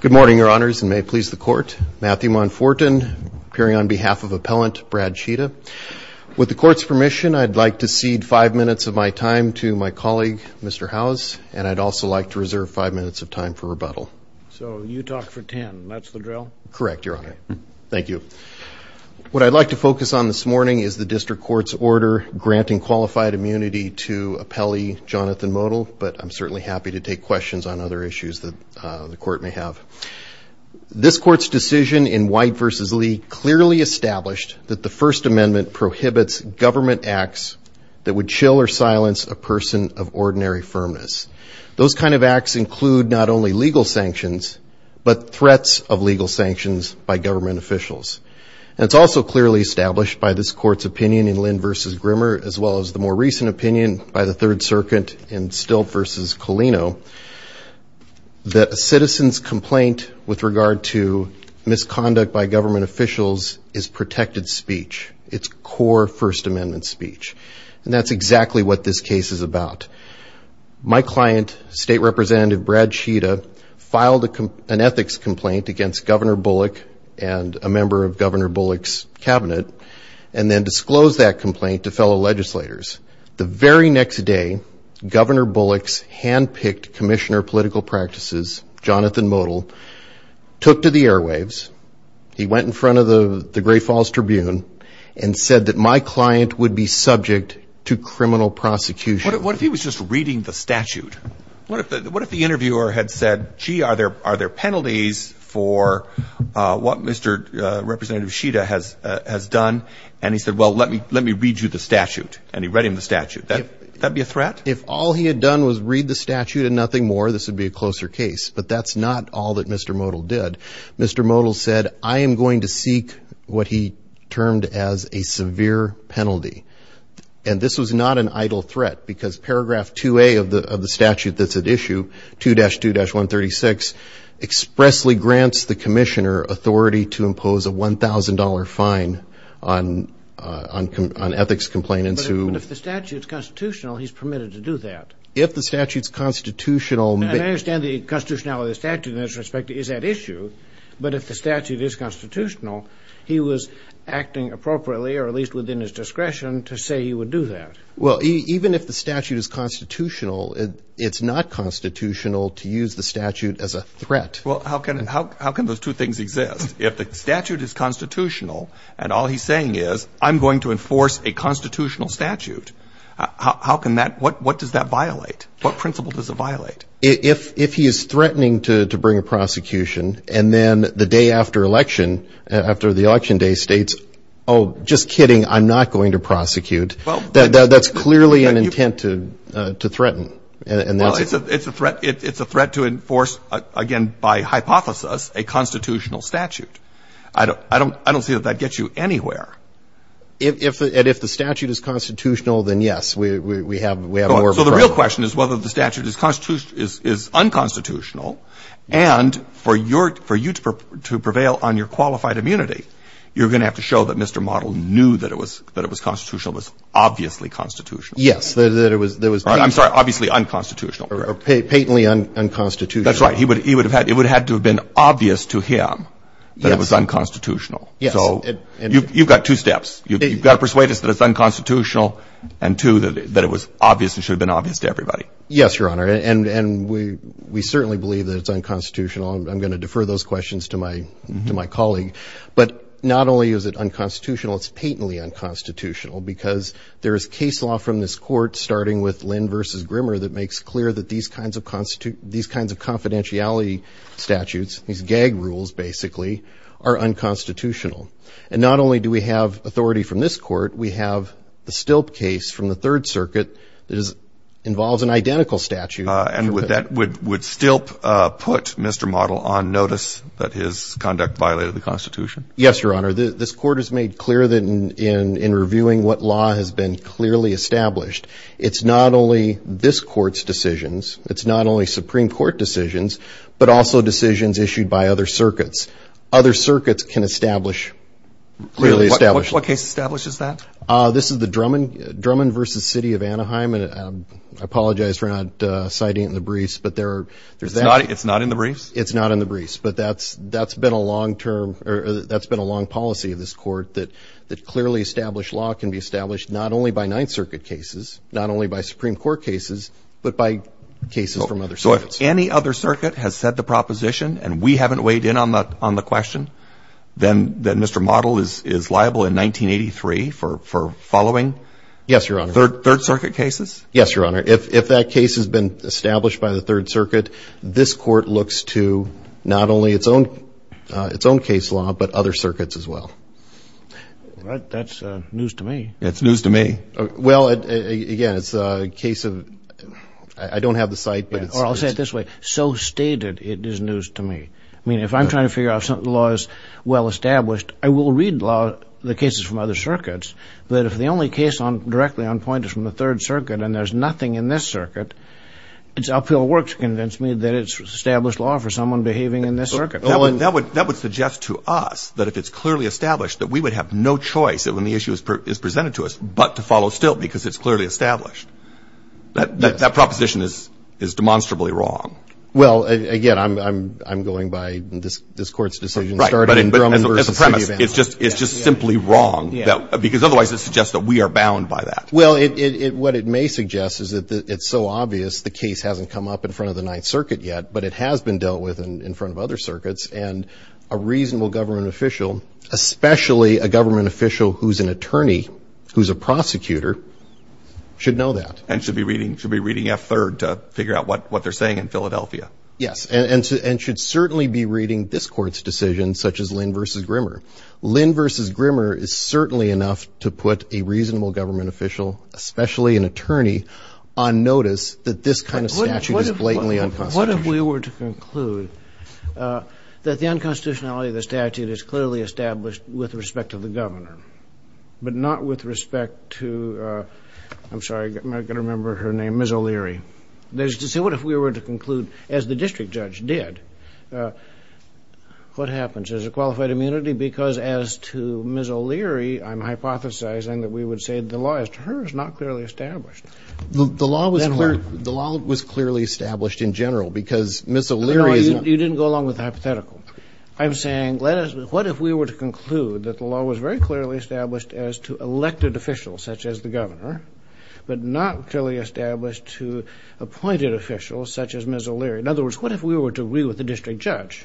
Good morning, Your Honors, and may it please the Court. Matthew Monfortin, appearing on behalf of Appellant Brad Tschida. With the Court's permission, I'd like to cede five minutes of my time to my colleague, Mr. Howes, and I'd also like to reserve five minutes of time for rebuttal. So you talk for ten. That's the drill? Correct, Your Honor. Thank you. What I'd like to focus on this morning is the District Court's order granting qualified immunity to Appellee Jonathan Motl, but I'm certainly happy to take questions on other issues that the Court may have. This Court's decision in White v. Lee clearly established that the First Amendment prohibits government acts that would chill or silence a person of ordinary firmness. Those kind of acts include not only legal sanctions, but threats of legal sanctions by government officials. And it's also clearly established by this Court's opinion in Lind v. Grimmer, as well as the more recent opinion by the Third Circuit in Stilt v. Colino, that a citizen's complaint with regard to misconduct by government officials is protected speech. It's core First Amendment speech. And that's exactly what this case is about. My client, State Representative Brad Tschida, filed an ethics complaint against Governor Bullock and a member of Governor Bullock's cabinet, and then disclosed that complaint to fellow legislators. The very next day, Governor Bullock's hand-picked Commissioner of Political Practices, Jonathan Motl, took to the airwaves, he went in front of the Great Falls Tribune, and said that my client would be subject to criminal prosecution. What if he was just reading the statute? What if the interviewer had said, gee, are there penalties for what Mr. Representative Tschida has done? And he said, well, let me read you the statute. And he read him the statute. Would that be a threat? If all he had done was read the statute and nothing more, this would be a closer case. But that's not all that Mr. Motl did. Mr. Motl said, I am going to seek what he termed as a severe penalty. And this was not an idle threat, because paragraph 2A of the statute that's at issue, 2-2-136, expressly grants the commissioner authority to impose a $1,000 fine on ethics complainants who ---- But if the statute's constitutional, he's permitted to do that. If the statute's constitutional ---- And I understand the constitutionality of the statute in this respect is at issue, but if the statute is constitutional, he was acting appropriately or at least within his discretion to say he would do that. Well, even if the statute is constitutional, it's not constitutional to use the statute as a threat. Well, how can those two things exist? If the statute is constitutional and all he's saying is, I'm going to enforce a constitutional statute, how can that ---- What does that violate? What principle does it violate? If he is threatening to bring a prosecution, and then the day after election, after the election day states, oh, just kidding, I'm not going to prosecute, that's clearly an intent to threaten. Well, it's a threat to enforce, again, by hypothesis, a constitutional statute. I don't see that that gets you anywhere. And if the statute is constitutional, then yes, we have more of a problem. The question is whether the statute is unconstitutional, and for you to prevail on your qualified immunity, you're going to have to show that Mr. Model knew that it was constitutional, was obviously constitutional. Yes, that it was ---- I'm sorry, obviously unconstitutional. Or patently unconstitutional. That's right. It would have had to have been obvious to him that it was unconstitutional. Yes. So you've got two steps. You've got to persuade us that it's unconstitutional, and two, that it was obvious and should have been obvious to everybody. Yes, Your Honor. And we certainly believe that it's unconstitutional. I'm going to defer those questions to my colleague. But not only is it unconstitutional, it's patently unconstitutional, because there is case law from this court, starting with Lynn v. Grimmer, that makes clear that these kinds of confidentiality statutes, these gag rules, basically, are unconstitutional. And not only do we have authority from this court, we have the Stilp case from the Third Circuit that involves an identical statute. And would Stilp put Mr. Model on notice that his conduct violated the Constitution? Yes, Your Honor. This court has made clear that in reviewing what law has been clearly established, it's not only this court's decisions, it's not only Supreme Court decisions, but also decisions issued by other circuits. Other circuits can establish, clearly establish. What case establishes that? This is the Drummond v. City of Anaheim. And I apologize for not citing it in the briefs, but there's that. It's not in the briefs? It's not in the briefs. But that's been a long term, or that's been a long policy of this court, that clearly established law can be established not only by Ninth Circuit cases, not only by Supreme Court cases, but by cases from other circuits. If any other circuit has said the proposition and we haven't weighed in on the question, then Mr. Model is liable in 1983 for following? Yes, Your Honor. Third Circuit cases? Yes, Your Honor. If that case has been established by the Third Circuit, this court looks to not only its own case law, but other circuits as well. That's news to me. It's news to me. Well, again, it's a case of, I don't have the site. Or I'll say it this way. So stated, it is news to me. I mean, if I'm trying to figure out if something in the law is well established, I will read the cases from other circuits, but if the only case directly on point is from the Third Circuit and there's nothing in this circuit, it's uphill work to convince me that it's established law for someone behaving in this circuit. That would suggest to us that if it's clearly established, that we would have no choice when the issue is presented to us but to follow still because it's clearly established. That proposition is demonstrably wrong. Well, again, I'm going by this Court's decision. Right. But as a premise, it's just simply wrong because otherwise it suggests that we are bound by that. Well, what it may suggest is that it's so obvious the case hasn't come up in front of the Ninth Circuit yet, but it has been dealt with in front of other circuits, and a reasonable government official, especially a government official who's an attorney, who's a prosecutor, should know that. And should be reading F-3rd to figure out what they're saying in Philadelphia. Yes, and should certainly be reading this Court's decision, such as Lynn v. Grimmer. Lynn v. Grimmer is certainly enough to put a reasonable government official, especially an attorney, on notice that this kind of statute is blatantly unconstitutional. Well, what if we were to conclude that the unconstitutionality of the statute is clearly established with respect to the governor but not with respect to, I'm sorry, I'm not going to remember her name, Ms. O'Leary. So what if we were to conclude, as the district judge did, what happens? Is there qualified immunity? Because as to Ms. O'Leary, I'm hypothesizing that we would say the law as to her is not clearly established. The law was clearly established in general because Ms. O'Leary is not. You didn't go along with the hypothetical. I'm saying what if we were to conclude that the law was very clearly established as to elected officials, such as the governor, but not clearly established to appointed officials, such as Ms. O'Leary. In other words, what if we were to agree with the district judge?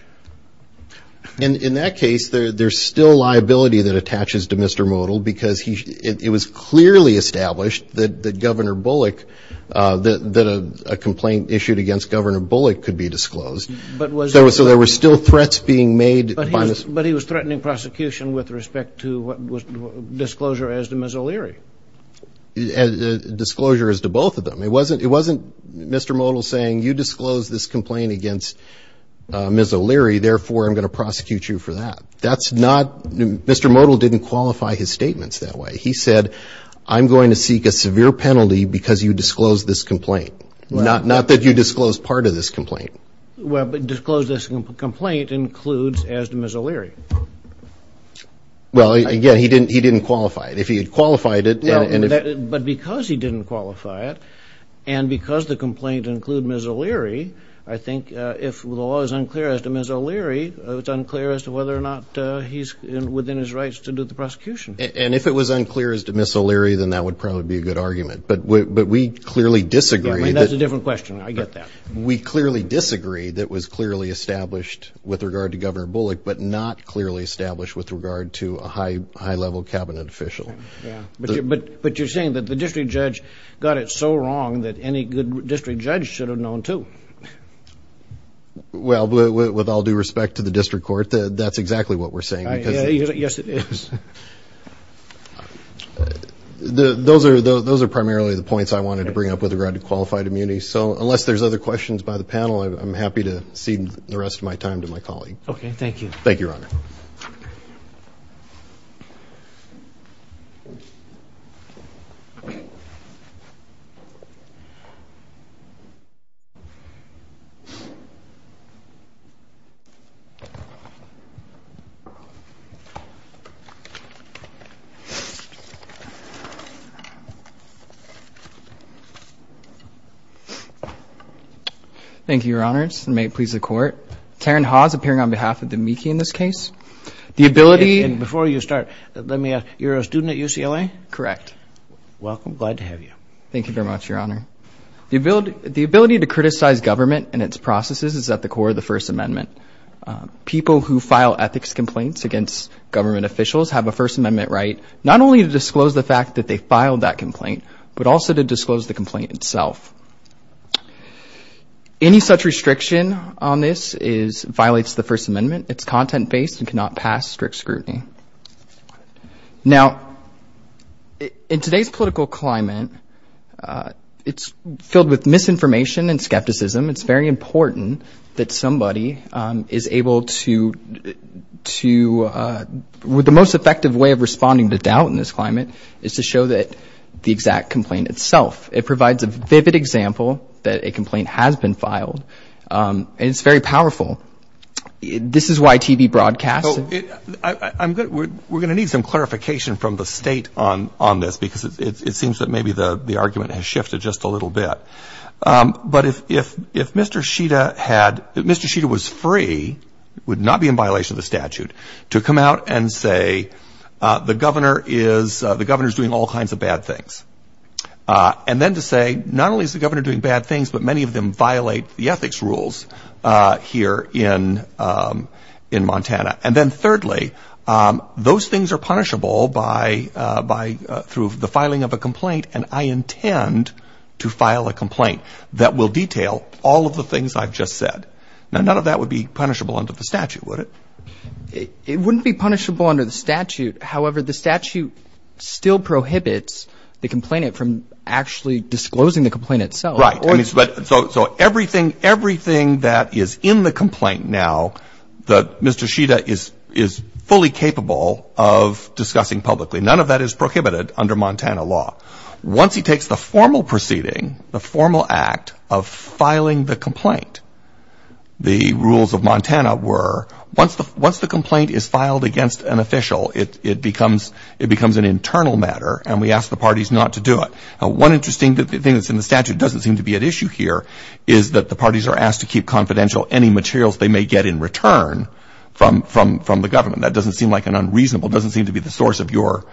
In that case, there's still liability that attaches to Mr. Modell because it was clearly established that Governor Bullock, that a complaint issued against Governor Bullock could be disclosed. So there were still threats being made. But he was threatening prosecution with respect to disclosure as to Ms. O'Leary. Disclosure as to both of them. It wasn't Mr. Modell saying, you disclosed this complaint against Ms. O'Leary, therefore I'm going to prosecute you for that. That's not, Mr. Modell didn't qualify his statements that way. He said, I'm going to seek a severe penalty because you disclosed this complaint. Not that you disclosed part of this complaint. Well, but disclose this complaint includes as to Ms. O'Leary. Well, again, he didn't qualify it. But because he didn't qualify it, and because the complaint included Ms. O'Leary, I think if the law is unclear as to Ms. O'Leary, it's unclear as to whether or not he's within his rights to do the prosecution. And if it was unclear as to Ms. O'Leary, then that would probably be a good argument. But we clearly disagree. That's a different question. I get that. We clearly disagree that it was clearly established with regard to Governor Bullock, but not clearly established with regard to a high-level cabinet official. But you're saying that the district judge got it so wrong that any good district judge should have known, too. Well, with all due respect to the district court, that's exactly what we're saying. Yes, it is. Those are primarily the points I wanted to bring up with regard to qualified immunity. So unless there's other questions by the panel, I'm happy to cede the rest of my time to my colleague. Okay, thank you. Thank you, Your Honor. Thank you, Your Honors, and may it please the Court. Taryn Hawes, appearing on behalf of the MEKI in this case. The ability... And before you start, let me ask, you're a student at UCLA? Correct. Welcome. Glad to have you. Thank you very much, Your Honor. The ability to criticize government and its processes is at the core of the First Amendment. People who file ethics complaints against government officials have a First Amendment right, not only to disclose the fact that they filed that complaint, but also to disclose the complaint itself. Any such restriction on this violates the First Amendment. It's content-based and cannot pass strict scrutiny. Now, in today's political climate, it's filled with misinformation and skepticism. It's very important that somebody is able to... The most effective way of responding to doubt in this climate is to show the exact complaint itself. It provides a vivid example that a complaint has been filed. And it's very powerful. This is why TV broadcasts... We're going to need some clarification from the State on this, because it seems that maybe the argument has shifted just a little bit. But if Mr. Shida had... If Mr. Shida was free, it would not be in violation of the statute, to come out and say the governor is doing all kinds of bad things. And then to say, not only is the governor doing bad things, but many of them violate the ethics rules here in Montana. And then, thirdly, those things are punishable through the filing of a complaint, and I intend to file a complaint that will detail all of the things I've just said. Now, none of that would be punishable under the statute, would it? It wouldn't be punishable under the statute. However, the statute still prohibits the complainant from actually disclosing the complaint itself. Right. So everything that is in the complaint now that Mr. Shida is fully capable of discussing publicly, none of that is prohibited under Montana law. Once he takes the formal proceeding, the formal act of filing the complaint, the rules of Montana were once the complaint is filed against an official, it becomes an internal matter, and we ask the parties not to do it. Now, one interesting thing that's in the statute doesn't seem to be at issue here is that the parties are asked to keep confidential any materials they may get in return from the government. That doesn't seem like an unreasonable, doesn't seem to be the source of your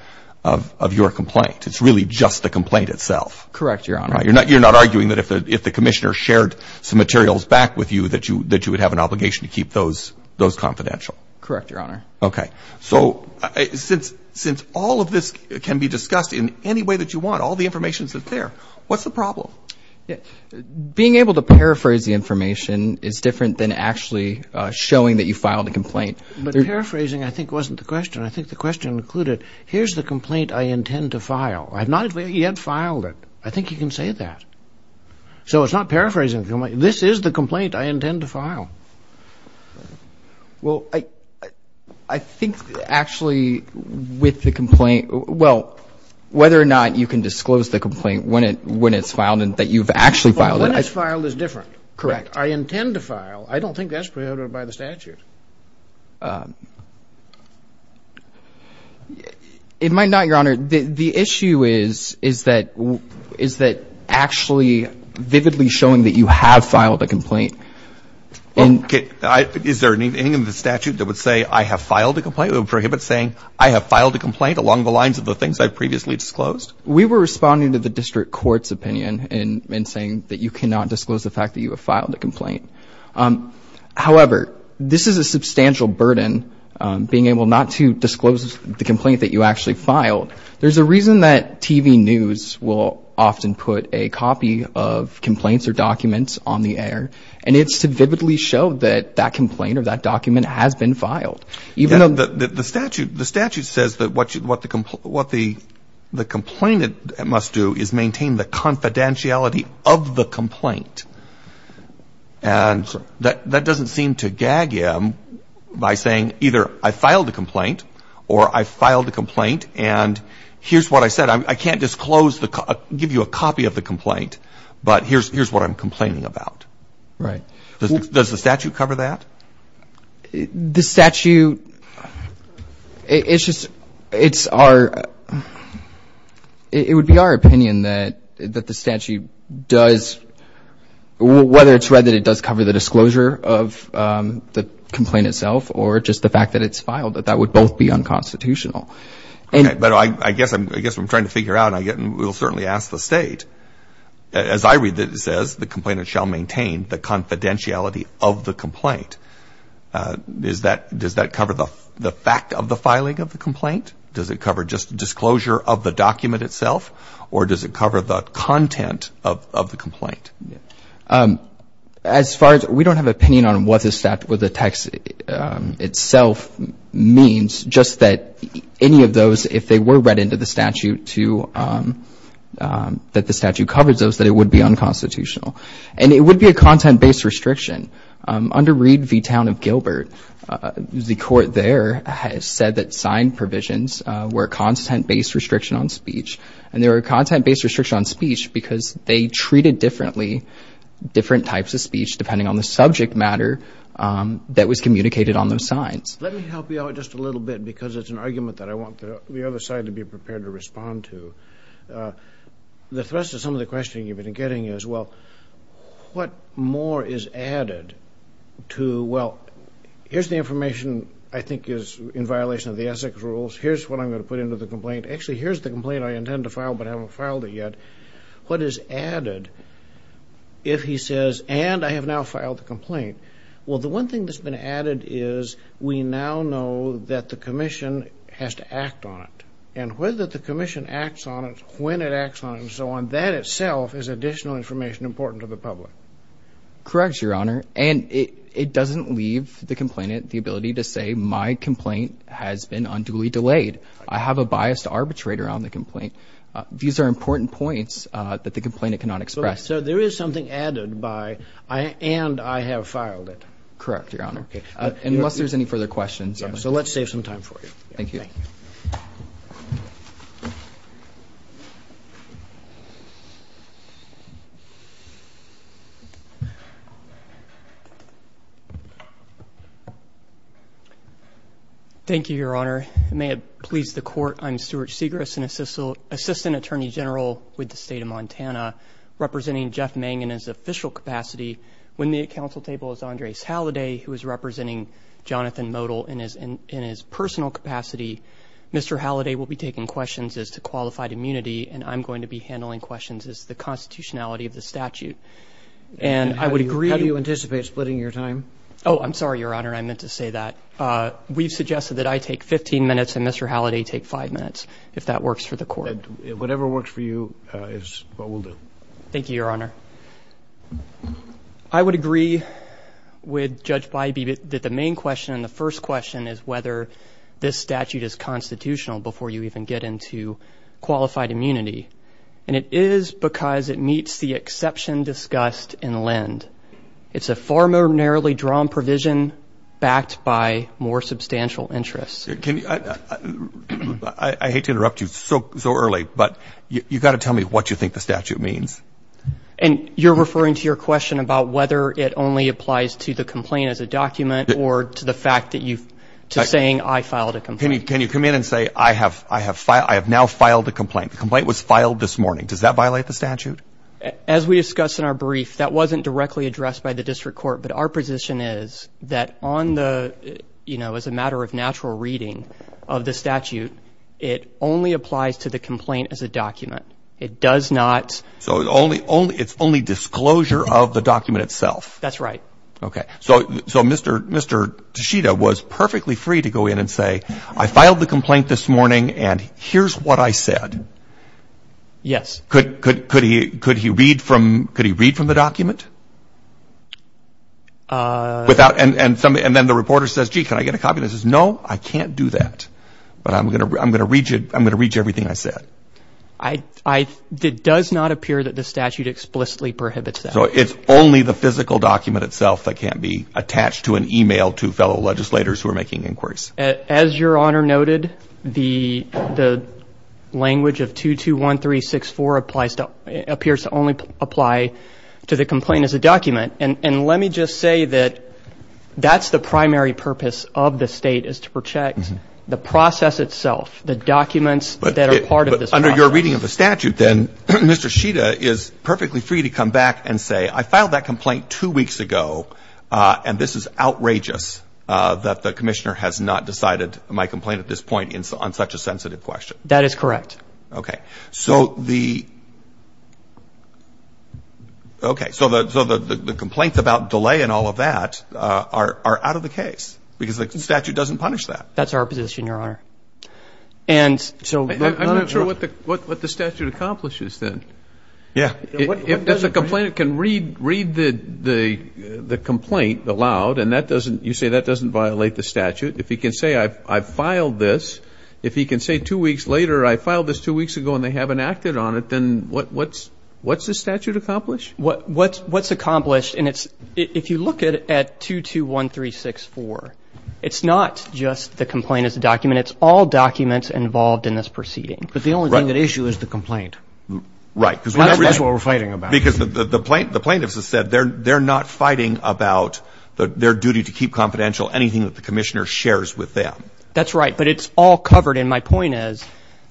complaint. It's really just the complaint itself. Correct, Your Honor. You're not arguing that if the commissioner shared some materials back with you, that you would have an obligation to keep those confidential? Correct, Your Honor. Okay. So since all of this can be discussed in any way that you want, all the information is there, what's the problem? Being able to paraphrase the information is different than actually showing that you filed a complaint. But paraphrasing, I think, wasn't the question. I think the question included, here's the complaint I intend to file. I have not yet filed it. I think you can say that. So it's not paraphrasing. This is the complaint I intend to file. Well, I think actually with the complaint, well, whether or not you can disclose the complaint when it's filed and that you've actually filed it. When it's filed is different. Correct. I intend to file. I don't think that's prohibited by the statute. It might not, Your Honor. The issue is that actually vividly showing that you have filed a complaint. Okay. Is there anything in the statute that would say I have filed a complaint? Would it prohibit saying I have filed a complaint along the lines of the things I've previously disclosed? We were responding to the district court's opinion in saying that you cannot disclose the fact that you have filed a complaint. However, this is a substantial burden, being able not to disclose the complaint that you actually filed. There's a reason that TV news will often put a copy of complaints or documents on the air, and it's to vividly show that that complaint or that document has been filed. The statute says that what the complainant must do is maintain the confidentiality of the complaint. And that doesn't seem to gag him by saying either I filed a complaint or I filed a complaint and here's what I said. I can't disclose, give you a copy of the complaint, but here's what I'm complaining about. Right. Does the statute cover that? The statute, it's just, it's our, it would be our opinion that the statute does, whether it's read that it does cover the disclosure of the complaint itself or just the fact that it's filed, that that would both be unconstitutional. But I guess I'm trying to figure out, and we'll certainly ask the state. As I read it, it says the complainant shall maintain the confidentiality of the complaint. Does that cover the fact of the filing of the complaint? Does it cover just the disclosure of the document itself? Or does it cover the content of the complaint? As far as, we don't have an opinion on what the statute, what the text itself means, just that any of those, if they were read into the statute to, that the statute covers those, that it would be unconstitutional. And it would be a content-based restriction. Under Reed v. Town of Gilbert, the court there has said that signed provisions were a content-based restriction on speech, and they were a content-based restriction on speech because they treated differently, different types of speech depending on the subject matter that was communicated on those signs. Let me help you out just a little bit because it's an argument that I want the other side to be prepared to respond to. The thrust of some of the questioning you've been getting is, well, what more is added to, well, here's the information I think is in violation of the Essex rules. Here's what I'm going to put into the complaint. Actually, here's the complaint I intend to file but haven't filed it yet. What is added if he says, and I have now filed the complaint? Well, the one thing that's been added is we now know that the commission has to act on it, and whether the commission acts on it, when it acts on it, and so on, that itself is additional information important to the public. Correct, Your Honor, and it doesn't leave the complainant the ability to say, my complaint has been unduly delayed. I have a bias to arbitrate around the complaint. These are important points that the complainant cannot express. So there is something added by, and I have filed it. Correct, Your Honor, unless there's any further questions. So let's save some time for you. Thank you. Thank you, Your Honor. May it please the Court, I'm Stuart Segrist, Assistant Attorney General with the State of Montana, representing Jeff Mang in his official capacity. When the council table is Andres Halliday, who is representing Jonathan Modell in his personal capacity, Mr. Halliday will be taking questions as to qualified immunity, and I'm going to be handling questions as to the constitutionality of the statute. And I would agree. How do you anticipate splitting your time? Oh, I'm sorry, Your Honor, I meant to say that. We've suggested that I take 15 minutes and Mr. Halliday take five minutes, if that works for the Court. Whatever works for you is what we'll do. Thank you, Your Honor. I would agree with Judge Bybee that the main question and the first question is whether this statute is constitutional before you even get into qualified immunity. And it is because it meets the exception discussed in LEND. It's a far more narrowly drawn provision backed by more substantial interests. I hate to interrupt you so early, but you've got to tell me what you think the statute means. And you're referring to your question about whether it only applies to the complaint as a document or to the fact that you've, to saying I filed a complaint. Can you come in and say I have now filed a complaint? The complaint was filed this morning. Does that violate the statute? As we discussed in our brief, that wasn't directly addressed by the district court. But our position is that on the, you know, as a matter of natural reading of the statute, it only applies to the complaint as a document. It does not. So it's only disclosure of the document itself. That's right. Okay. So Mr. Tashita was perfectly free to go in and say I filed the complaint this morning and here's what I said. Yes. Could he read from the document? And then the reporter says, gee, can I get a copy? And he says, no, I can't do that. But I'm going to read you everything I said. It does not appear that the statute explicitly prohibits that. So it's only the physical document itself that can't be attached to an e-mail to fellow legislators who are making inquiries. As Your Honor noted, the language of 221364 appears to only apply to the complaint as a document. And let me just say that that's the primary purpose of the state is to protect the process itself, the documents that are part of this process. But under your reading of the statute, then, Mr. Tashita is perfectly free to come back and say I filed that complaint two weeks ago, and this is outrageous that the commissioner has not decided my complaint at this point on such a sensitive question. That is correct. Okay. So the complaint about delay and all of that are out of the case because the statute doesn't punish that. That's our position, Your Honor. I'm not sure what the statute accomplishes then. Yeah. If the complainant can read the complaint aloud and you say that doesn't violate the statute, if he can say I filed this, if he can say two weeks later I filed this two weeks ago and they haven't acted on it, then what's the statute accomplish? What's accomplished, and if you look at 221364, it's not just the complaint as a document. It's all documents involved in this proceeding. But the only thing at issue is the complaint. Right. That's what we're fighting about. Because the plaintiffs have said they're not fighting about their duty to keep confidential anything that the commissioner shares with them. That's right, but it's all covered, and my point is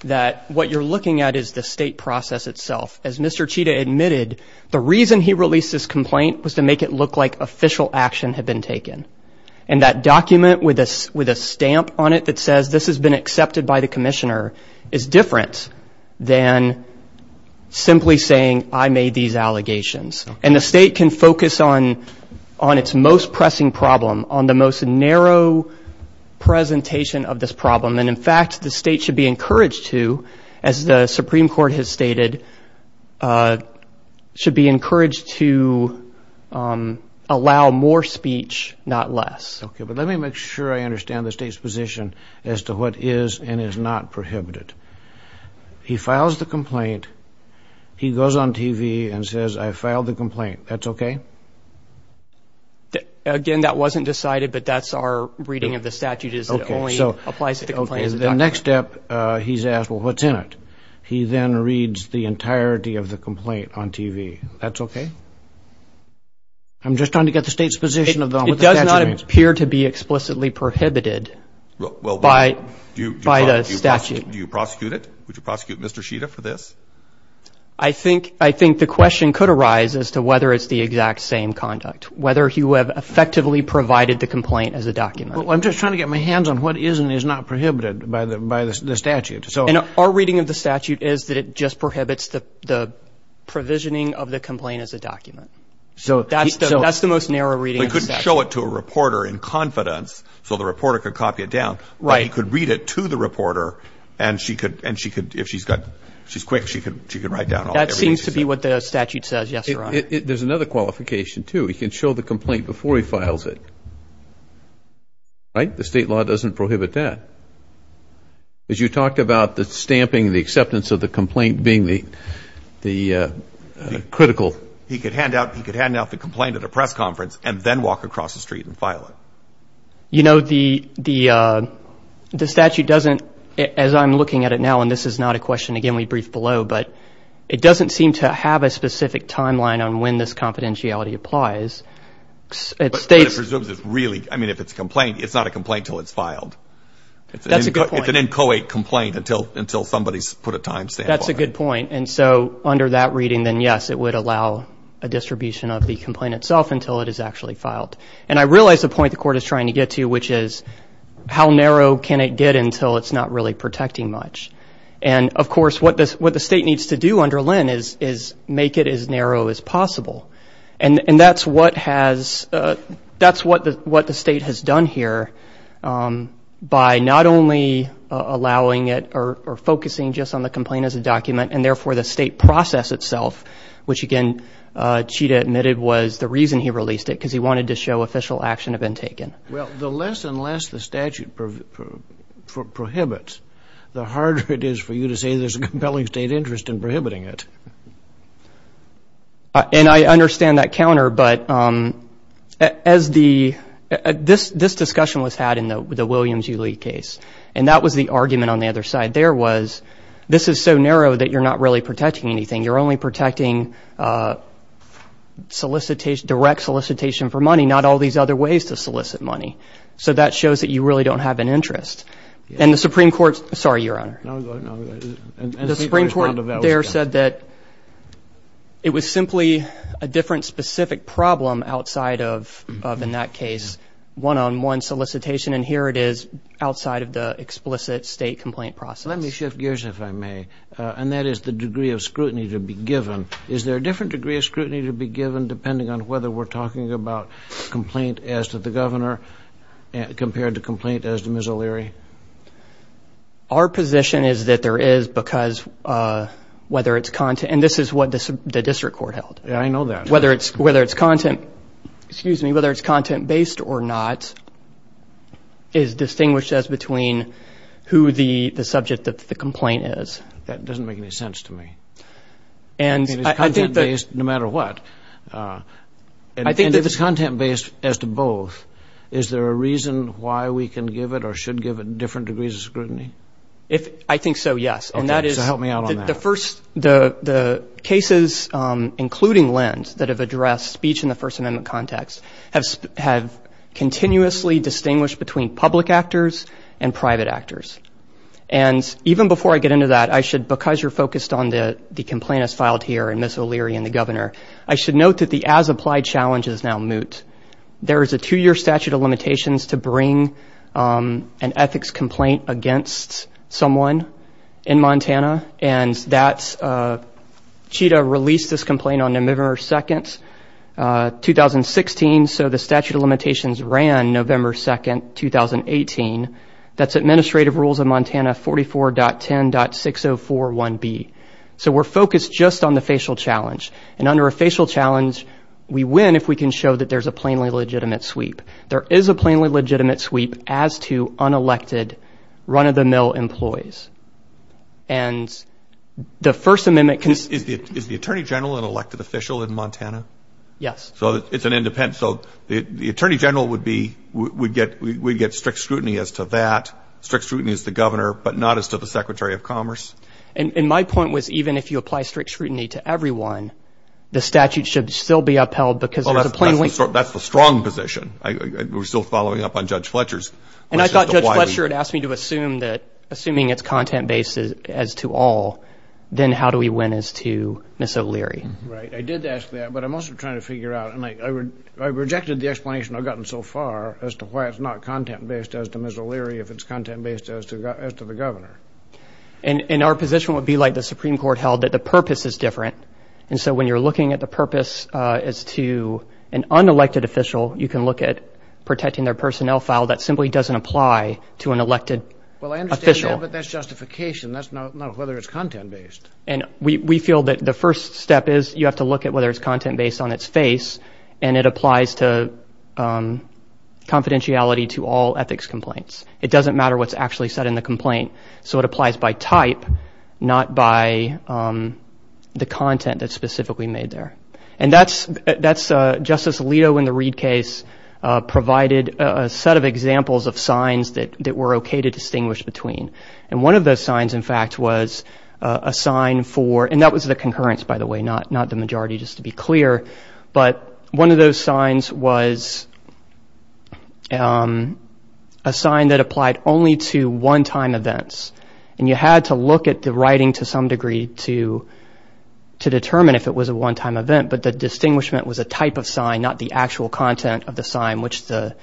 that what you're looking at is the state process itself. As Mr. Chita admitted, the reason he released this complaint was to make it look like official action had been taken, and that document with a stamp on it that says this has been accepted by the commissioner is different than simply saying I made these allegations. And the state can focus on its most pressing problem, on the most narrow presentation of this problem, and, in fact, the state should be encouraged to, as the Supreme Court has stated, should be encouraged to allow more speech, not less. Okay, but let me make sure I understand the state's position as to what is and is not prohibited. He files the complaint. He goes on TV and says, I filed the complaint. That's okay? Again, that wasn't decided, but that's our reading of the statute is it only applies to the complaint as a document. Okay, so the next step, he's asked, well, what's in it? He then reads the entirety of the complaint on TV. That's okay? I'm just trying to get the state's position on what the statute means. It does not appear to be explicitly prohibited by the statute. Do you prosecute it? Would you prosecute Mr. Chita for this? I think the question could arise as to whether it's the exact same conduct, whether he would have effectively provided the complaint as a document. Well, I'm just trying to get my hands on what is and is not prohibited by the statute. And our reading of the statute is that it just prohibits the provisioning of the complaint as a document. So that's the most narrow reading of the statute. But he couldn't show it to a reporter in confidence so the reporter could copy it down. Right. But he could read it to the reporter, and she could, if she's quick, she could write down everything she said. That seems to be what the statute says, yes, Your Honor. There's another qualification, too. He can show the complaint before he files it. Right? The state law doesn't prohibit that. As you talked about the stamping, the acceptance of the complaint being the critical. He could hand out the complaint at a press conference and then walk across the street and file it. You know, the statute doesn't, as I'm looking at it now, and this is not a question, again, we brief below, but it doesn't seem to have a specific timeline on when this confidentiality applies. But it presumes it's really, I mean, if it's a complaint, it's not a complaint until it's filed. That's a good point. It's an inchoate complaint until somebody's put a timestamp on it. That's a good point. And so under that reading, then, yes, it would allow a distribution of the complaint itself until it is actually filed. And I realize the point the court is trying to get to, which is how narrow can it get until it's not really protecting much. And, of course, what the state needs to do under Lynn is make it as narrow as possible. And that's what has, that's what the state has done here by not only allowing it or focusing just on the complaint as a document and, therefore, the state process itself, which, again, Chita admitted was the reason he released it, because he wanted to show official action had been taken. Well, the less and less the statute prohibits, the harder it is for you to say there's a compelling state interest in prohibiting it. And I understand that counter. But as the, this discussion was had in the Williams U. Lee case, and that was the argument on the other side there was this is so narrow that you're not really protecting anything. You're only protecting solicitation, direct solicitation for money, not all these other ways to solicit money. So that shows that you really don't have an interest. And the Supreme Court, sorry, Your Honor. The Supreme Court there said that it was simply a different specific problem outside of, in that case, one-on-one solicitation. And here it is outside of the explicit state complaint process. Let me shift gears, if I may, and that is the degree of scrutiny to be given. Is there a different degree of scrutiny to be given, depending on whether we're talking about complaint as to the governor compared to complaint as to Ms. O'Leary? Our position is that there is because whether it's content, and this is what the district court held. Yeah, I know that. Whether it's content, excuse me, whether it's content-based or not, is distinguished as between who the subject of the complaint is. That doesn't make any sense to me. And I think that. It's content-based no matter what. I think that it's content-based as to both. Is there a reason why we can give it or should give it different degrees of scrutiny? I think so, yes. Okay, so help me out on that. The cases, including Lend, that have addressed speech in the First Amendment context have continuously distinguished between public actors and private actors. And even before I get into that, I should, because you're focused on the complaint as filed here and Ms. O'Leary and the governor, I should note that the as-applied challenge is now moot. There is a two-year statute of limitations to bring an ethics complaint against someone in Montana, and CHITA released this complaint on November 2, 2016, so the statute of limitations ran November 2, 2018. That's Administrative Rules of Montana 44.10.6041B. So we're focused just on the facial challenge. And under a facial challenge, we win if we can show that there's a plainly legitimate sweep. There is a plainly legitimate sweep as to unelected, run-of-the-mill employees. And the First Amendment... Is the attorney general an elected official in Montana? Yes. So it's an independent. So the attorney general would get strict scrutiny as to that, strict scrutiny as to the governor, but not as to the Secretary of Commerce? And my point was even if you apply strict scrutiny to everyone, the statute should still be upheld because there's a plainly... That's the strong position. We're still following up on Judge Fletcher's. And I thought Judge Fletcher had asked me to assume that assuming it's content-based as to all, then how do we win as to Ms. O'Leary? Right. I did ask that, but I'm also trying to figure out... I rejected the explanation I've gotten so far as to why it's not content-based as to Ms. O'Leary if it's content-based as to the governor. And our position would be like the Supreme Court held, that the purpose is different. And so when you're looking at the purpose as to an unelected official, you can look at protecting their personnel file. That simply doesn't apply to an elected official. Well, I understand that, but that's justification. That's not whether it's content-based. And we feel that the first step is you have to look at whether it's content-based on its face, and it applies to confidentiality to all ethics complaints. It doesn't matter what's actually said in the complaint. So it applies by type, not by the content that's specifically made there. And that's Justice Alito in the Reed case provided a set of examples of signs that were okay to distinguish between. And one of those signs, in fact, was a sign for... and that was the concurrence, by the way, not the majority, just to be clear. But one of those signs was a sign that applied only to one-time events. And you had to look at the writing to some degree to determine if it was a one-time event. But the distinguishment was a type of sign, not the actual content of the sign, which the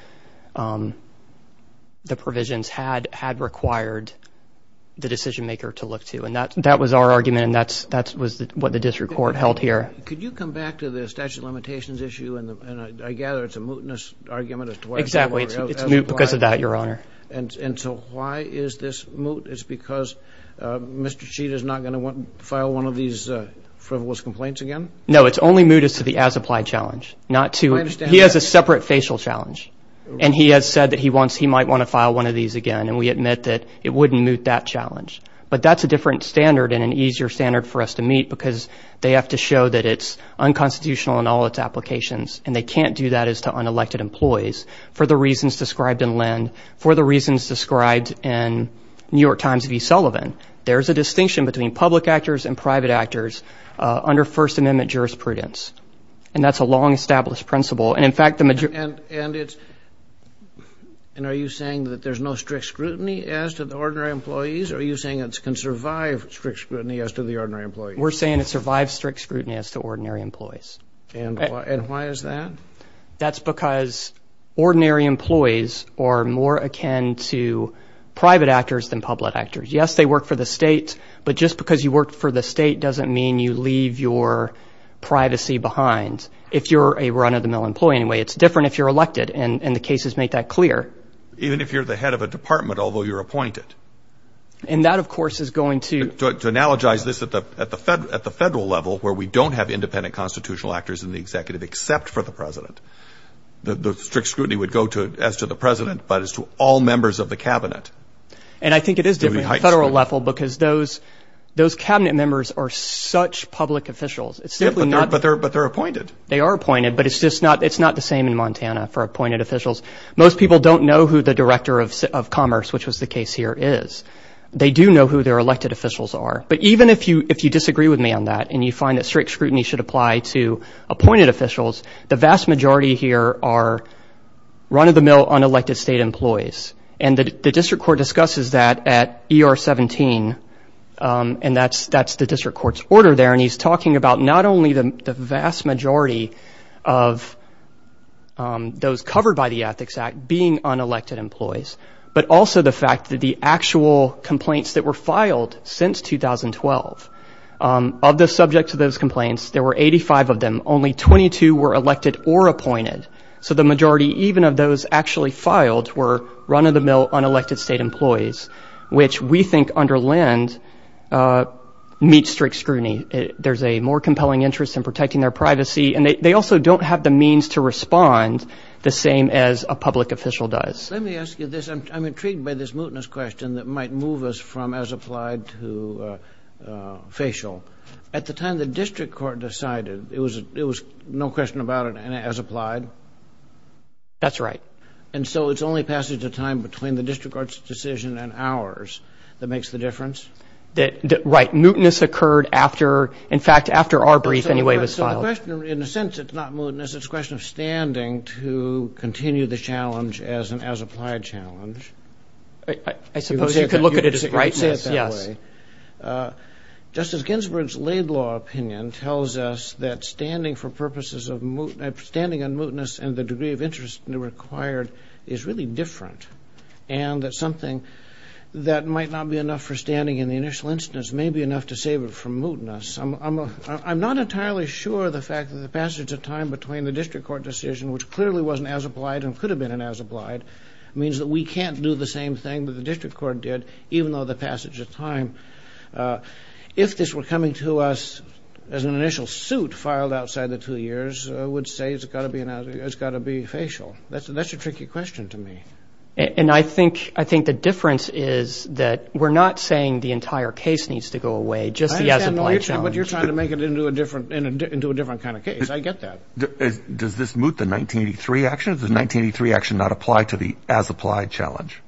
provisions had required the decision-maker to look to. And that was our argument, and that was what the district court held here. Could you come back to the statute of limitations issue? And I gather it's a mootness argument as to why it's not... Exactly. It's moot because of that, Your Honor. And so why is this moot? It's because Mr. Sheet is not going to file one of these frivolous complaints again? No, it's only moot as to the as-applied challenge, not to... He has a separate facial challenge, and he has said that he might want to file one of these again, and we admit that it wouldn't moot that challenge. But that's a different standard and an easier standard for us to meet because they have to show that it's unconstitutional in all its applications, and they can't do that as to unelected employees, for the reasons described in Lind, for the reasons described in New York Times v. Sullivan. There's a distinction between public actors and private actors under First Amendment jurisprudence, and that's a long-established principle. And, in fact, the majority... And are you saying that there's no strict scrutiny as to the ordinary employees, or are you saying it can survive strict scrutiny as to the ordinary employees? We're saying it survives strict scrutiny as to ordinary employees. And why is that? That's because ordinary employees are more akin to private actors than public actors. Yes, they work for the state, but just because you work for the state doesn't mean you leave your privacy behind. If you're a run-of-the-mill employee, anyway, it's different if you're elected, and the cases make that clear. Even if you're the head of a department, although you're appointed. And that, of course, is going to... To analogize this at the federal level, where we don't have independent constitutional actors in the executive, except for the president. The strict scrutiny would go as to the president, but as to all members of the cabinet. And I think it is different at the federal level, because those cabinet members are such public officials. But they're appointed. They are appointed, but it's not the same in Montana for appointed officials. Most people don't know who the director of commerce, which was the case here, is. They do know who their elected officials are. But even if you disagree with me on that, and you find that strict scrutiny should apply to appointed officials, the vast majority here are run-of-the-mill, unelected state employees. And the district court discusses that at ER 17, and that's the district court's order there. And he's talking about not only the vast majority of those covered by the Ethics Act being unelected employees, but also the fact that the actual complaints that were filed since 2012, of the subjects of those complaints, there were 85 of them. Only 22 were elected or appointed. So the majority, even of those actually filed, were run-of-the-mill, unelected state employees, which we think under LEND meets strict scrutiny. There's a more compelling interest in protecting their privacy. And they also don't have the means to respond the same as a public official does. Let me ask you this. I'm intrigued by this mootness question that might move us from as applied to facial. At the time the district court decided, it was no question about it and as applied? That's right. And so it's only passage of time between the district court's decision and ours that makes the difference? Right. Mootness occurred after, in fact, after our brief anyway was filed. So the question, in a sense, it's not mootness. It's a question of standing to continue the challenge as an as-applied challenge. I suppose you could look at it as a right, yes. Justice Ginsburg's Laidlaw opinion tells us that standing for purposes of mootness, standing on mootness and the degree of interest required is really different and that something that might not be enough for standing in the initial instance may be enough to save it from mootness. I'm not entirely sure of the fact that the passage of time between the district court decision, which clearly wasn't as applied and could have been as applied, means that we can't do the same thing that the district court did, even though the passage of time. If this were coming to us as an initial suit filed outside the two years, I would say it's got to be facial. That's a tricky question to me. And I think the difference is that we're not saying the entire case needs to go away, just the as-applied challenge. I understand what you're saying, but you're trying to make it into a different kind of case. I get that. Does this moot the 1983 action? Does the 1983 action not apply to the as-applied challenge?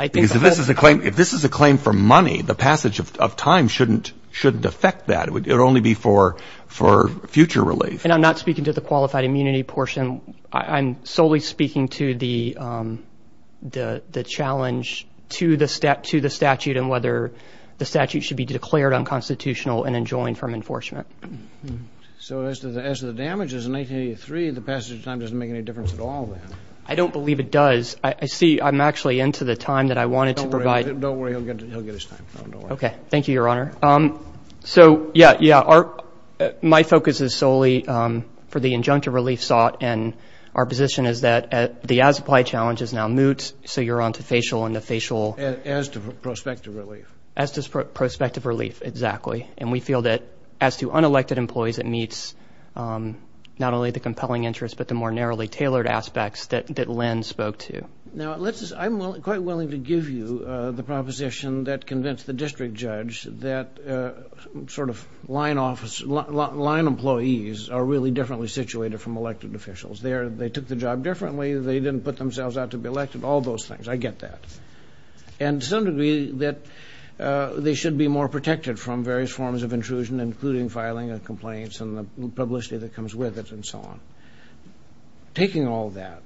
Because if this is a claim for money, the passage of time shouldn't affect that. It would only be for future relief. And I'm not speaking to the qualified immunity portion. I'm solely speaking to the challenge to the statute and whether the statute should be declared unconstitutional and enjoined from enforcement. So as to the damages in 1983, the passage of time doesn't make any difference at all then? I don't believe it does. I see I'm actually into the time that I wanted to provide. Don't worry. He'll get his time. Okay. Thank you, Your Honor. So, yeah, yeah, my focus is solely for the injunctive relief sought, and our position is that the as-applied challenge is now moot, so you're on to facial and the facial. As to prospective relief. As to prospective relief, exactly. And we feel that as to unelected employees, it meets not only the compelling interest but the more narrowly tailored aspects that Lynn spoke to. Now, I'm quite willing to give you the proposition that convinced the district judge that sort of line employees are really differently situated from elected officials. They took the job differently. They didn't put themselves out to be elected. All those things. I get that. and the publicity that comes with it and so on. Taking all that,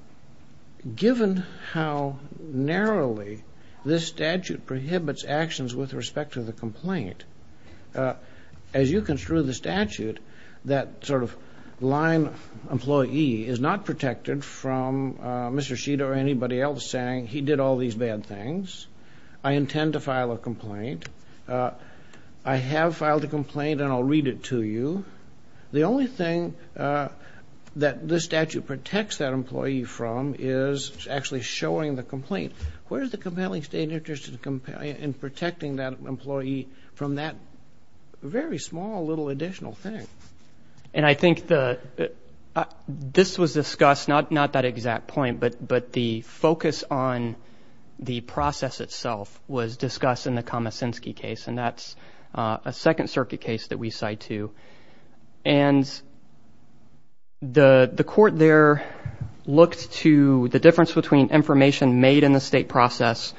given how narrowly this statute prohibits actions with respect to the complaint, as you construe the statute, that sort of line employee is not protected from Mr. Sheed or anybody else saying he did all these bad things. I intend to file a complaint. I have filed a complaint, and I'll read it to you. The only thing that this statute protects that employee from is actually showing the complaint. Where is the compelling state interest in protecting that employee from that very small little additional thing? And I think this was discussed, not that exact point, but the focus on the process itself was discussed in the Komosinski case, and that's a Second Circuit case that we cite too. And the court there looked to the difference between information made in the state process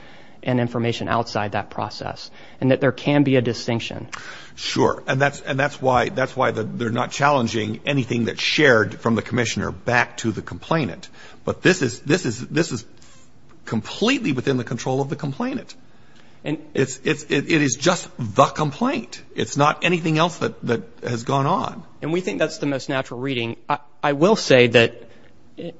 and information outside that process and that there can be a distinction. Sure, and that's why they're not challenging anything that's shared from the commissioner back to the complainant. But this is completely within the control of the complainant. It is just the complaint. It's not anything else that has gone on. And we think that's the most natural reading. I will say that,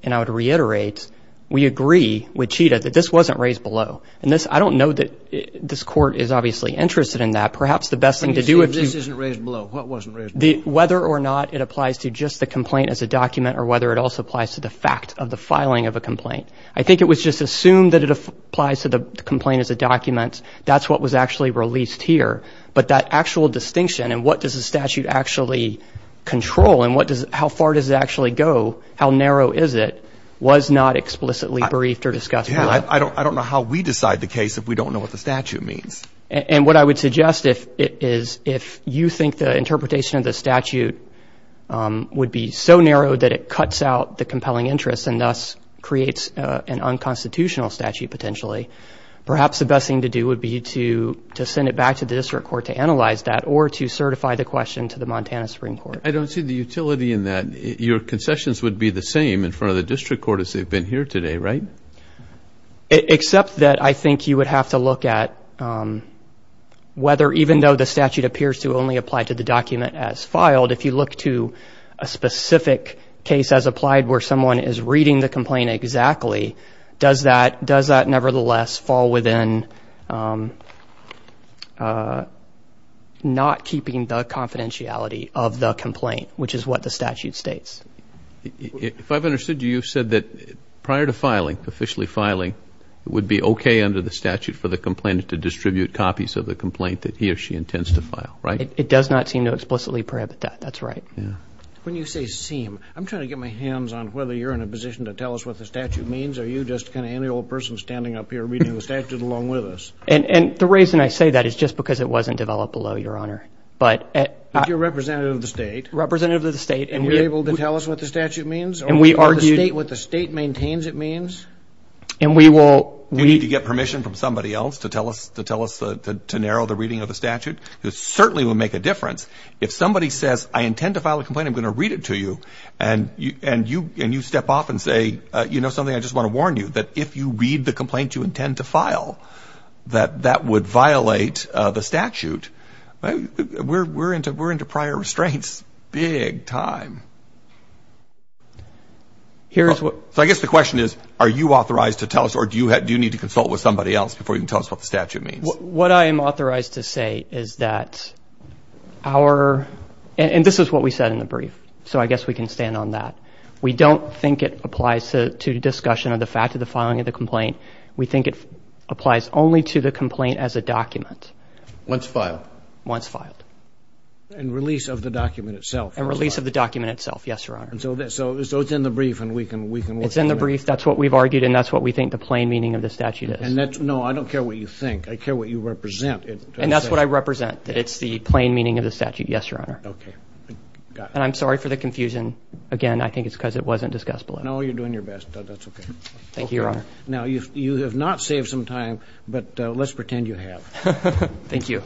and I would reiterate, we agree with Chita that this wasn't raised below. And I don't know that this court is obviously interested in that. Perhaps the best thing to do is to see if this isn't raised below. What wasn't raised below? Whether or not it applies to just the complaint as a document or whether it also applies to the fact of the filing of a complaint. I think it was just assumed that it applies to the complaint as a document. That's what was actually released here. But that actual distinction and what does the statute actually control and how far does it actually go, how narrow is it, was not explicitly briefed or discussed. I don't know how we decide the case if we don't know what the statute means. And what I would suggest is if you think the interpretation of the statute would be so narrow that it cuts out the compelling interest and thus creates an unconstitutional statute potentially, perhaps the best thing to do would be to send it back to the district court to analyze that or to certify the question to the Montana Supreme Court. I don't see the utility in that. Your concessions would be the same in front of the district court as they've been here today, right? Except that I think you would have to look at whether, even though the statute appears to only apply to the document as filed, if you look to a specific case as applied where someone is reading the complaint exactly, does that nevertheless fall within not keeping the confidentiality of the complaint, which is what the statute states. If I've understood you, you've said that prior to filing, officially filing, it would be okay under the statute for the complainant to distribute copies of the complaint that he or she intends to file, right? It does not seem to explicitly prohibit that. That's right. When you say seem, I'm trying to get my hands on whether you're in a position to tell us what the statute means. Are you just kind of any old person standing up here reading the statute along with us? And the reason I say that is just because it wasn't developed below your honor. But you're representative of the state. Representative of the state. And you're able to tell us what the statute means? And we argued. Or the state, what the state maintains it means? And we will read. Do you need to get permission from somebody else to tell us to narrow the reading of the statute? It certainly would make a difference. If somebody says, I intend to file a complaint, I'm going to read it to you, and you step off and say, you know something, I just want to warn you, that if you read the complaint you intend to file, that that would violate the statute. We're into prior restraints big time. So I guess the question is, are you authorized to tell us, or do you need to consult with somebody else before you can tell us what the statute means? What I am authorized to say is that our, and this is what we said in the brief, so I guess we can stand on that. We don't think it applies to discussion of the fact of the filing of the complaint. We think it applies only to the complaint as a document. Once filed. Once filed. And release of the document itself. And release of the document itself, yes, Your Honor. So it's in the brief and we can look at that. It's in the brief. That's what we've argued, and that's what we think the plain meaning of the statute is. And that's, no, I don't care what you think. I care what you represent. And that's what I represent, that it's the plain meaning of the statute, yes, Your Honor. Okay. And I'm sorry for the confusion. Again, I think it's because it wasn't discussed below. No, you're doing your best. That's okay. Thank you, Your Honor. Now, you have not saved some time, but let's pretend you have. Thank you.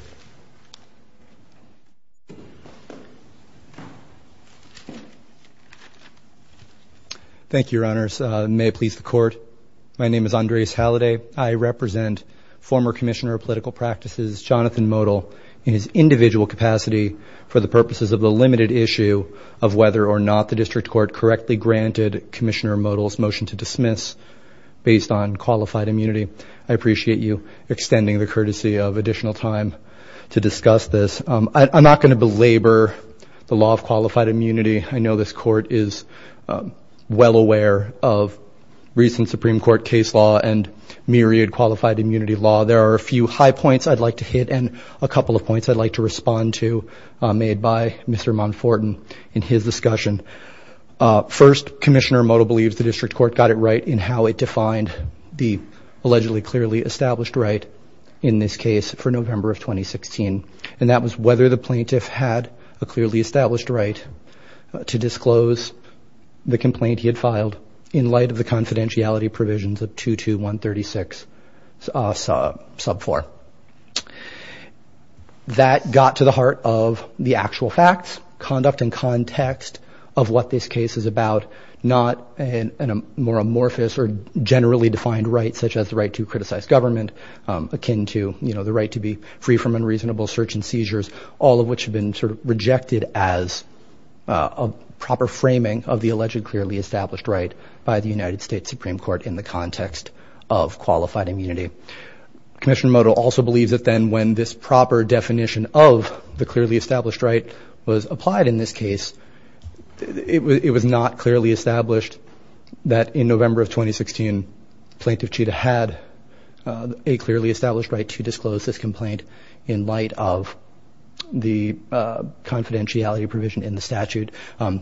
Thank you, Your Honors. May it please the Court. My name is Andreas Halliday. I represent former Commissioner of Political Practices, Jonathan Modell, in his individual capacity for the purposes of the limited issue of whether or not the District Court correctly granted Commissioner Modell's motion to dismiss based on qualified immunity. I appreciate you extending the courtesy of additional time to discuss this. I'm not going to belabor the law of qualified immunity. I know this Court is well aware of recent Supreme Court case law and myriad qualified immunity law. There are a few high points I'd like to hit and a couple of points I'd like to respond to made by Mr. Monfortin in his discussion. First, Commissioner Modell believes the District Court got it right in how it defined the allegedly clearly established right in this case for November of 2016, and that was whether the plaintiff had a clearly established right to disclose the complaint he had filed in light of the confidentiality provisions of 22136 sub 4. That got to the heart of the actual facts, conduct, and context of what this case is about, not a more amorphous or generally defined right such as the right to criticize government, akin to the right to be free from unreasonable search and seizures, all of which have been rejected as a proper framing of the allegedly clearly established right by the United States Supreme Court in the context of qualified immunity. Commissioner Modell also believes that then when this proper definition of the clearly established right was applied in this case, it was not clearly established that in November of 2016, Plaintiff Chita had a clearly established right to disclose this complaint in light of the confidentiality provision in the statute.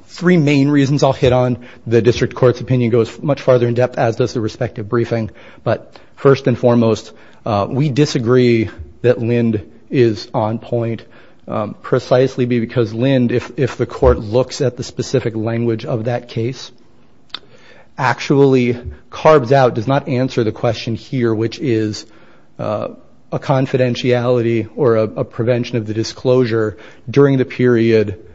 Three main reasons I'll hit on. The District Court's opinion goes much farther in depth as does the respective briefing, but first and foremost, we disagree that Lind is on point precisely because Lind, if the court looks at the specific language of that case, actually carves out, does not answer the question here, which is a confidentiality or a prevention of the disclosure during the period,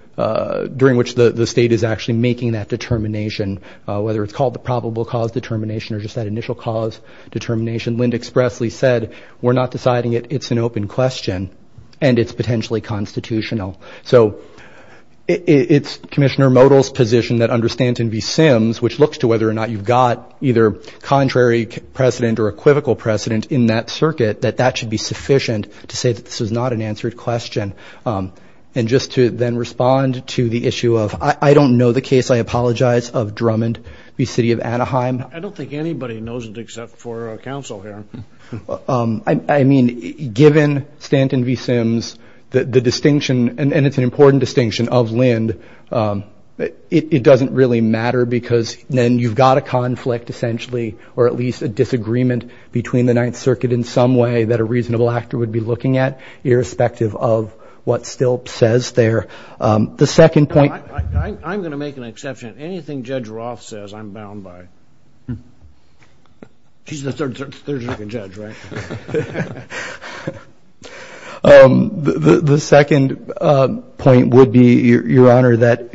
during which the state is actually making that determination, whether it's called the probable cause determination or just that initial cause determination. Lind expressly said, we're not deciding it. It's an open question and it's potentially constitutional. So it's Commissioner Modell's position that understands and be Sims, which looks to whether or not you've got either contrary precedent or equivocal precedent in that circuit, that that should be sufficient to say that this is not an answered question. And just to then respond to the issue of I don't know the case. I apologize of Drummond, the city of Anaheim. I don't think anybody knows it except for a council here. I mean, given Stanton v. Sims, the distinction and it's an important distinction of Lind. It doesn't really matter because then you've got a conflict essentially, or at least a disagreement between the Ninth Circuit in some way that a reasonable actor would be looking at, irrespective of what still says there. The second point. I'm going to make an exception. Anything Judge Roth says, I'm bound by. She's the third circuit judge, right? The second point would be, Your Honor, that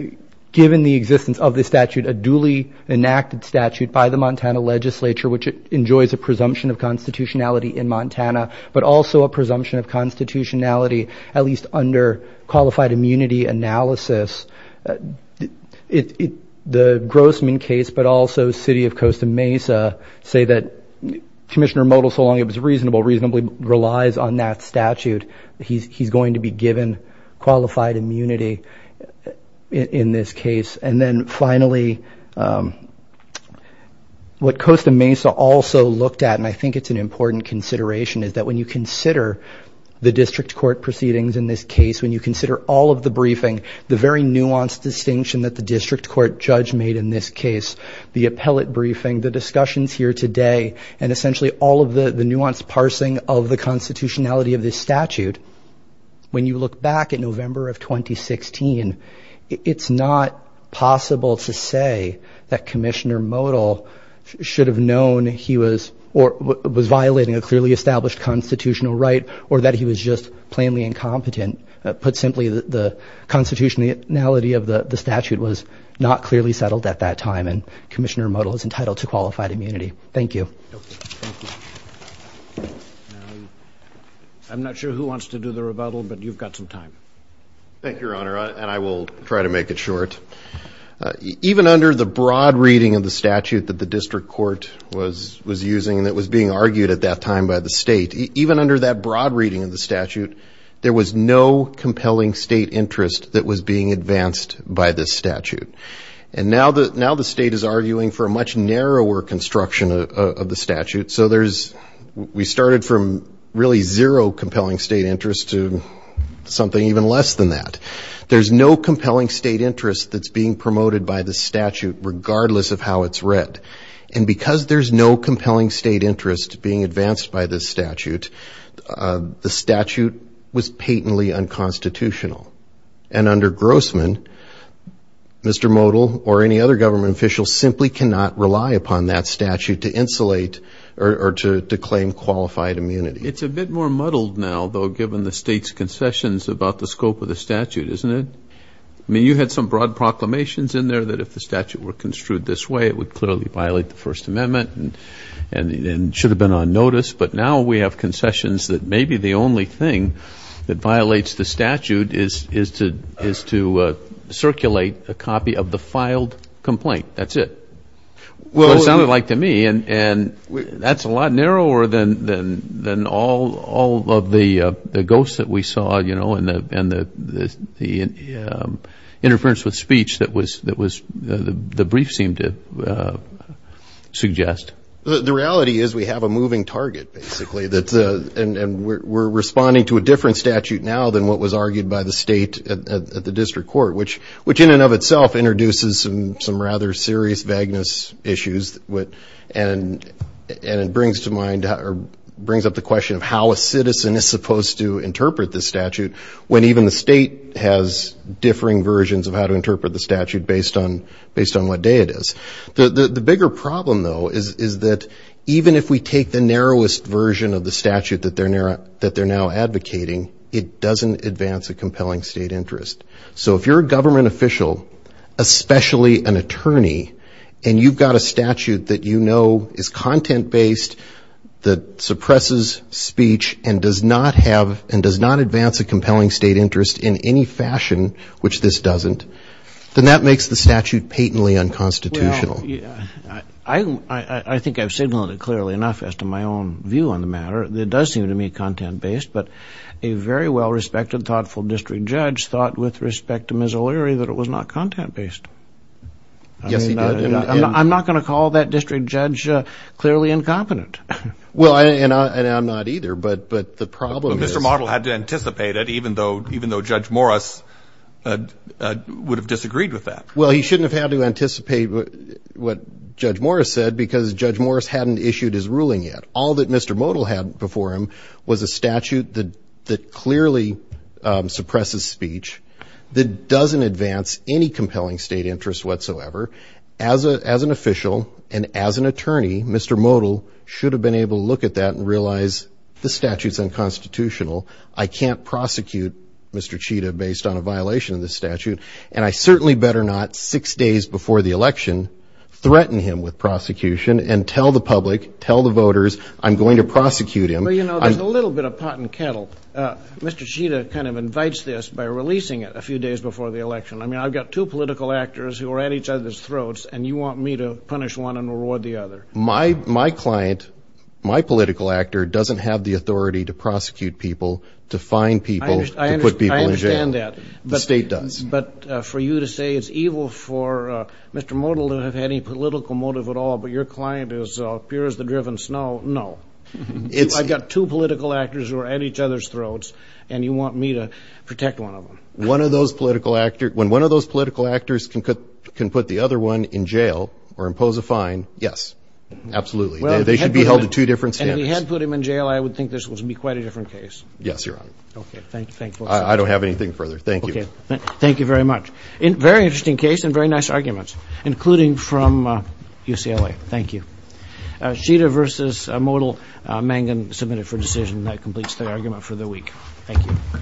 given the existence of the statute, a duly enacted statute by the Montana legislature, which enjoys a presumption of constitutionality in Montana, but also a presumption of constitutionality, at least under qualified immunity analysis. The Grossman case, but also city of Costa Mesa, say that Commissioner Motil, so long it was reasonable, reasonably relies on that statute. He's going to be given qualified immunity in this case. And then finally, what Costa Mesa also looked at, and I think it's an important consideration, is that when you consider the district court proceedings in this case, when you consider all of the briefing, the very nuanced distinction that the district court judge made in this case, the appellate briefing, the discussions here today, and essentially all of the nuanced parsing of the constitutionality of this statute, when you look back at November of 2016, it's not possible to say that Commissioner Motil should have known he was, or was violating a clearly established constitutional right or that he was just plainly incompetent. Put simply, the constitutionality of the statute was not clearly settled at that time, and Commissioner Motil is entitled to qualified immunity. Thank you. I'm not sure who wants to do the rebuttal, but you've got some time. Thank you, Your Honor, and I will try to make it short. Even under the broad reading of the statute that the district court was using that was being argued at that time by the state, even under that broad reading of the statute, there was no compelling state interest that was being advanced by this statute. And now the state is arguing for a much narrower construction of the statute, so we started from really zero compelling state interest to something even less than that. There's no compelling state interest that's being promoted by this statute, regardless of how it's read. And because there's no compelling state interest being advanced by this statute, the statute was patently unconstitutional. And under Grossman, Mr. Motil or any other government official simply cannot rely upon that statute to insulate or to claim qualified immunity. It's a bit more muddled now, though, given the state's concessions about the scope of the statute, isn't it? I mean, you had some broad proclamations in there that if the statute were construed this way, it would clearly violate the First Amendment and should have been on notice. But now we have concessions that maybe the only thing that violates the statute is to circulate a copy of the filed complaint. That's it. Well, it sounded like to me, and that's a lot narrower than all of the ghosts that we saw, you know, and the interference with speech that the brief seemed to suggest. The reality is we have a moving target, basically, and we're responding to a different statute now than what was argued by the state at the district court, which in and of itself introduces some rather serious vagueness issues and brings up the question of how a citizen is supposed to interpret the statute when even the state has differing versions of how to interpret the statute based on what day it is. The bigger problem, though, is that even if we take the narrowest version of the statute that they're now advocating, it doesn't advance a compelling state interest. So if you're a government official, especially an attorney, and you've got a statute that you know is content-based that suppresses speech and does not advance a compelling state interest in any fashion, which this doesn't, then that makes the statute patently unconstitutional. Well, I think I've signaled it clearly enough as to my own view on the matter. It does seem to me content-based, but a very well-respected, thoughtful district judge thought, with respect to Ms. O'Leary, that it was not content-based. Yes, he did. And I'm not going to call that district judge clearly incompetent. Well, and I'm not either, but the problem is Mr. Modell had to anticipate it, even though Judge Morris would have disagreed with that. Well, he shouldn't have had to anticipate what Judge Morris said because Judge Morris hadn't issued his ruling yet. All that Mr. Modell had before him was a statute that clearly suppresses speech, that doesn't advance any compelling state interest whatsoever. As an official and as an attorney, Mr. Modell should have been able to look at that and realize this statute is unconstitutional. I can't prosecute Mr. Chida based on a violation of this statute, and I certainly better not six days before the election threaten him with prosecution and tell the public, tell the voters, I'm going to prosecute him. Well, you know, there's a little bit of pot and kettle. Mr. Chida kind of invites this by releasing it a few days before the election. I mean, I've got two political actors who are at each other's throats, and you want me to punish one and reward the other. My client, my political actor, doesn't have the authority to prosecute people, to fine people, to put people in jail. I understand that. The state does. But for you to say it's evil for Mr. Modell to have had any political motive at all, but your client is pure as the driven snow, no. I've got two political actors who are at each other's throats, and you want me to protect one of them. When one of those political actors can put the other one in jail or impose a fine, yes, absolutely. They should be held to two different standards. And if you had put him in jail, I would think this would be quite a different case. Yes, Your Honor. Okay, thank you. I don't have anything further. Thank you. Thank you very much. Very interesting case and very nice arguments, including from UCLA. Thank you. Sheeter v. Modell, Mangan, submitted for decision. That completes the argument for the week. Thank you.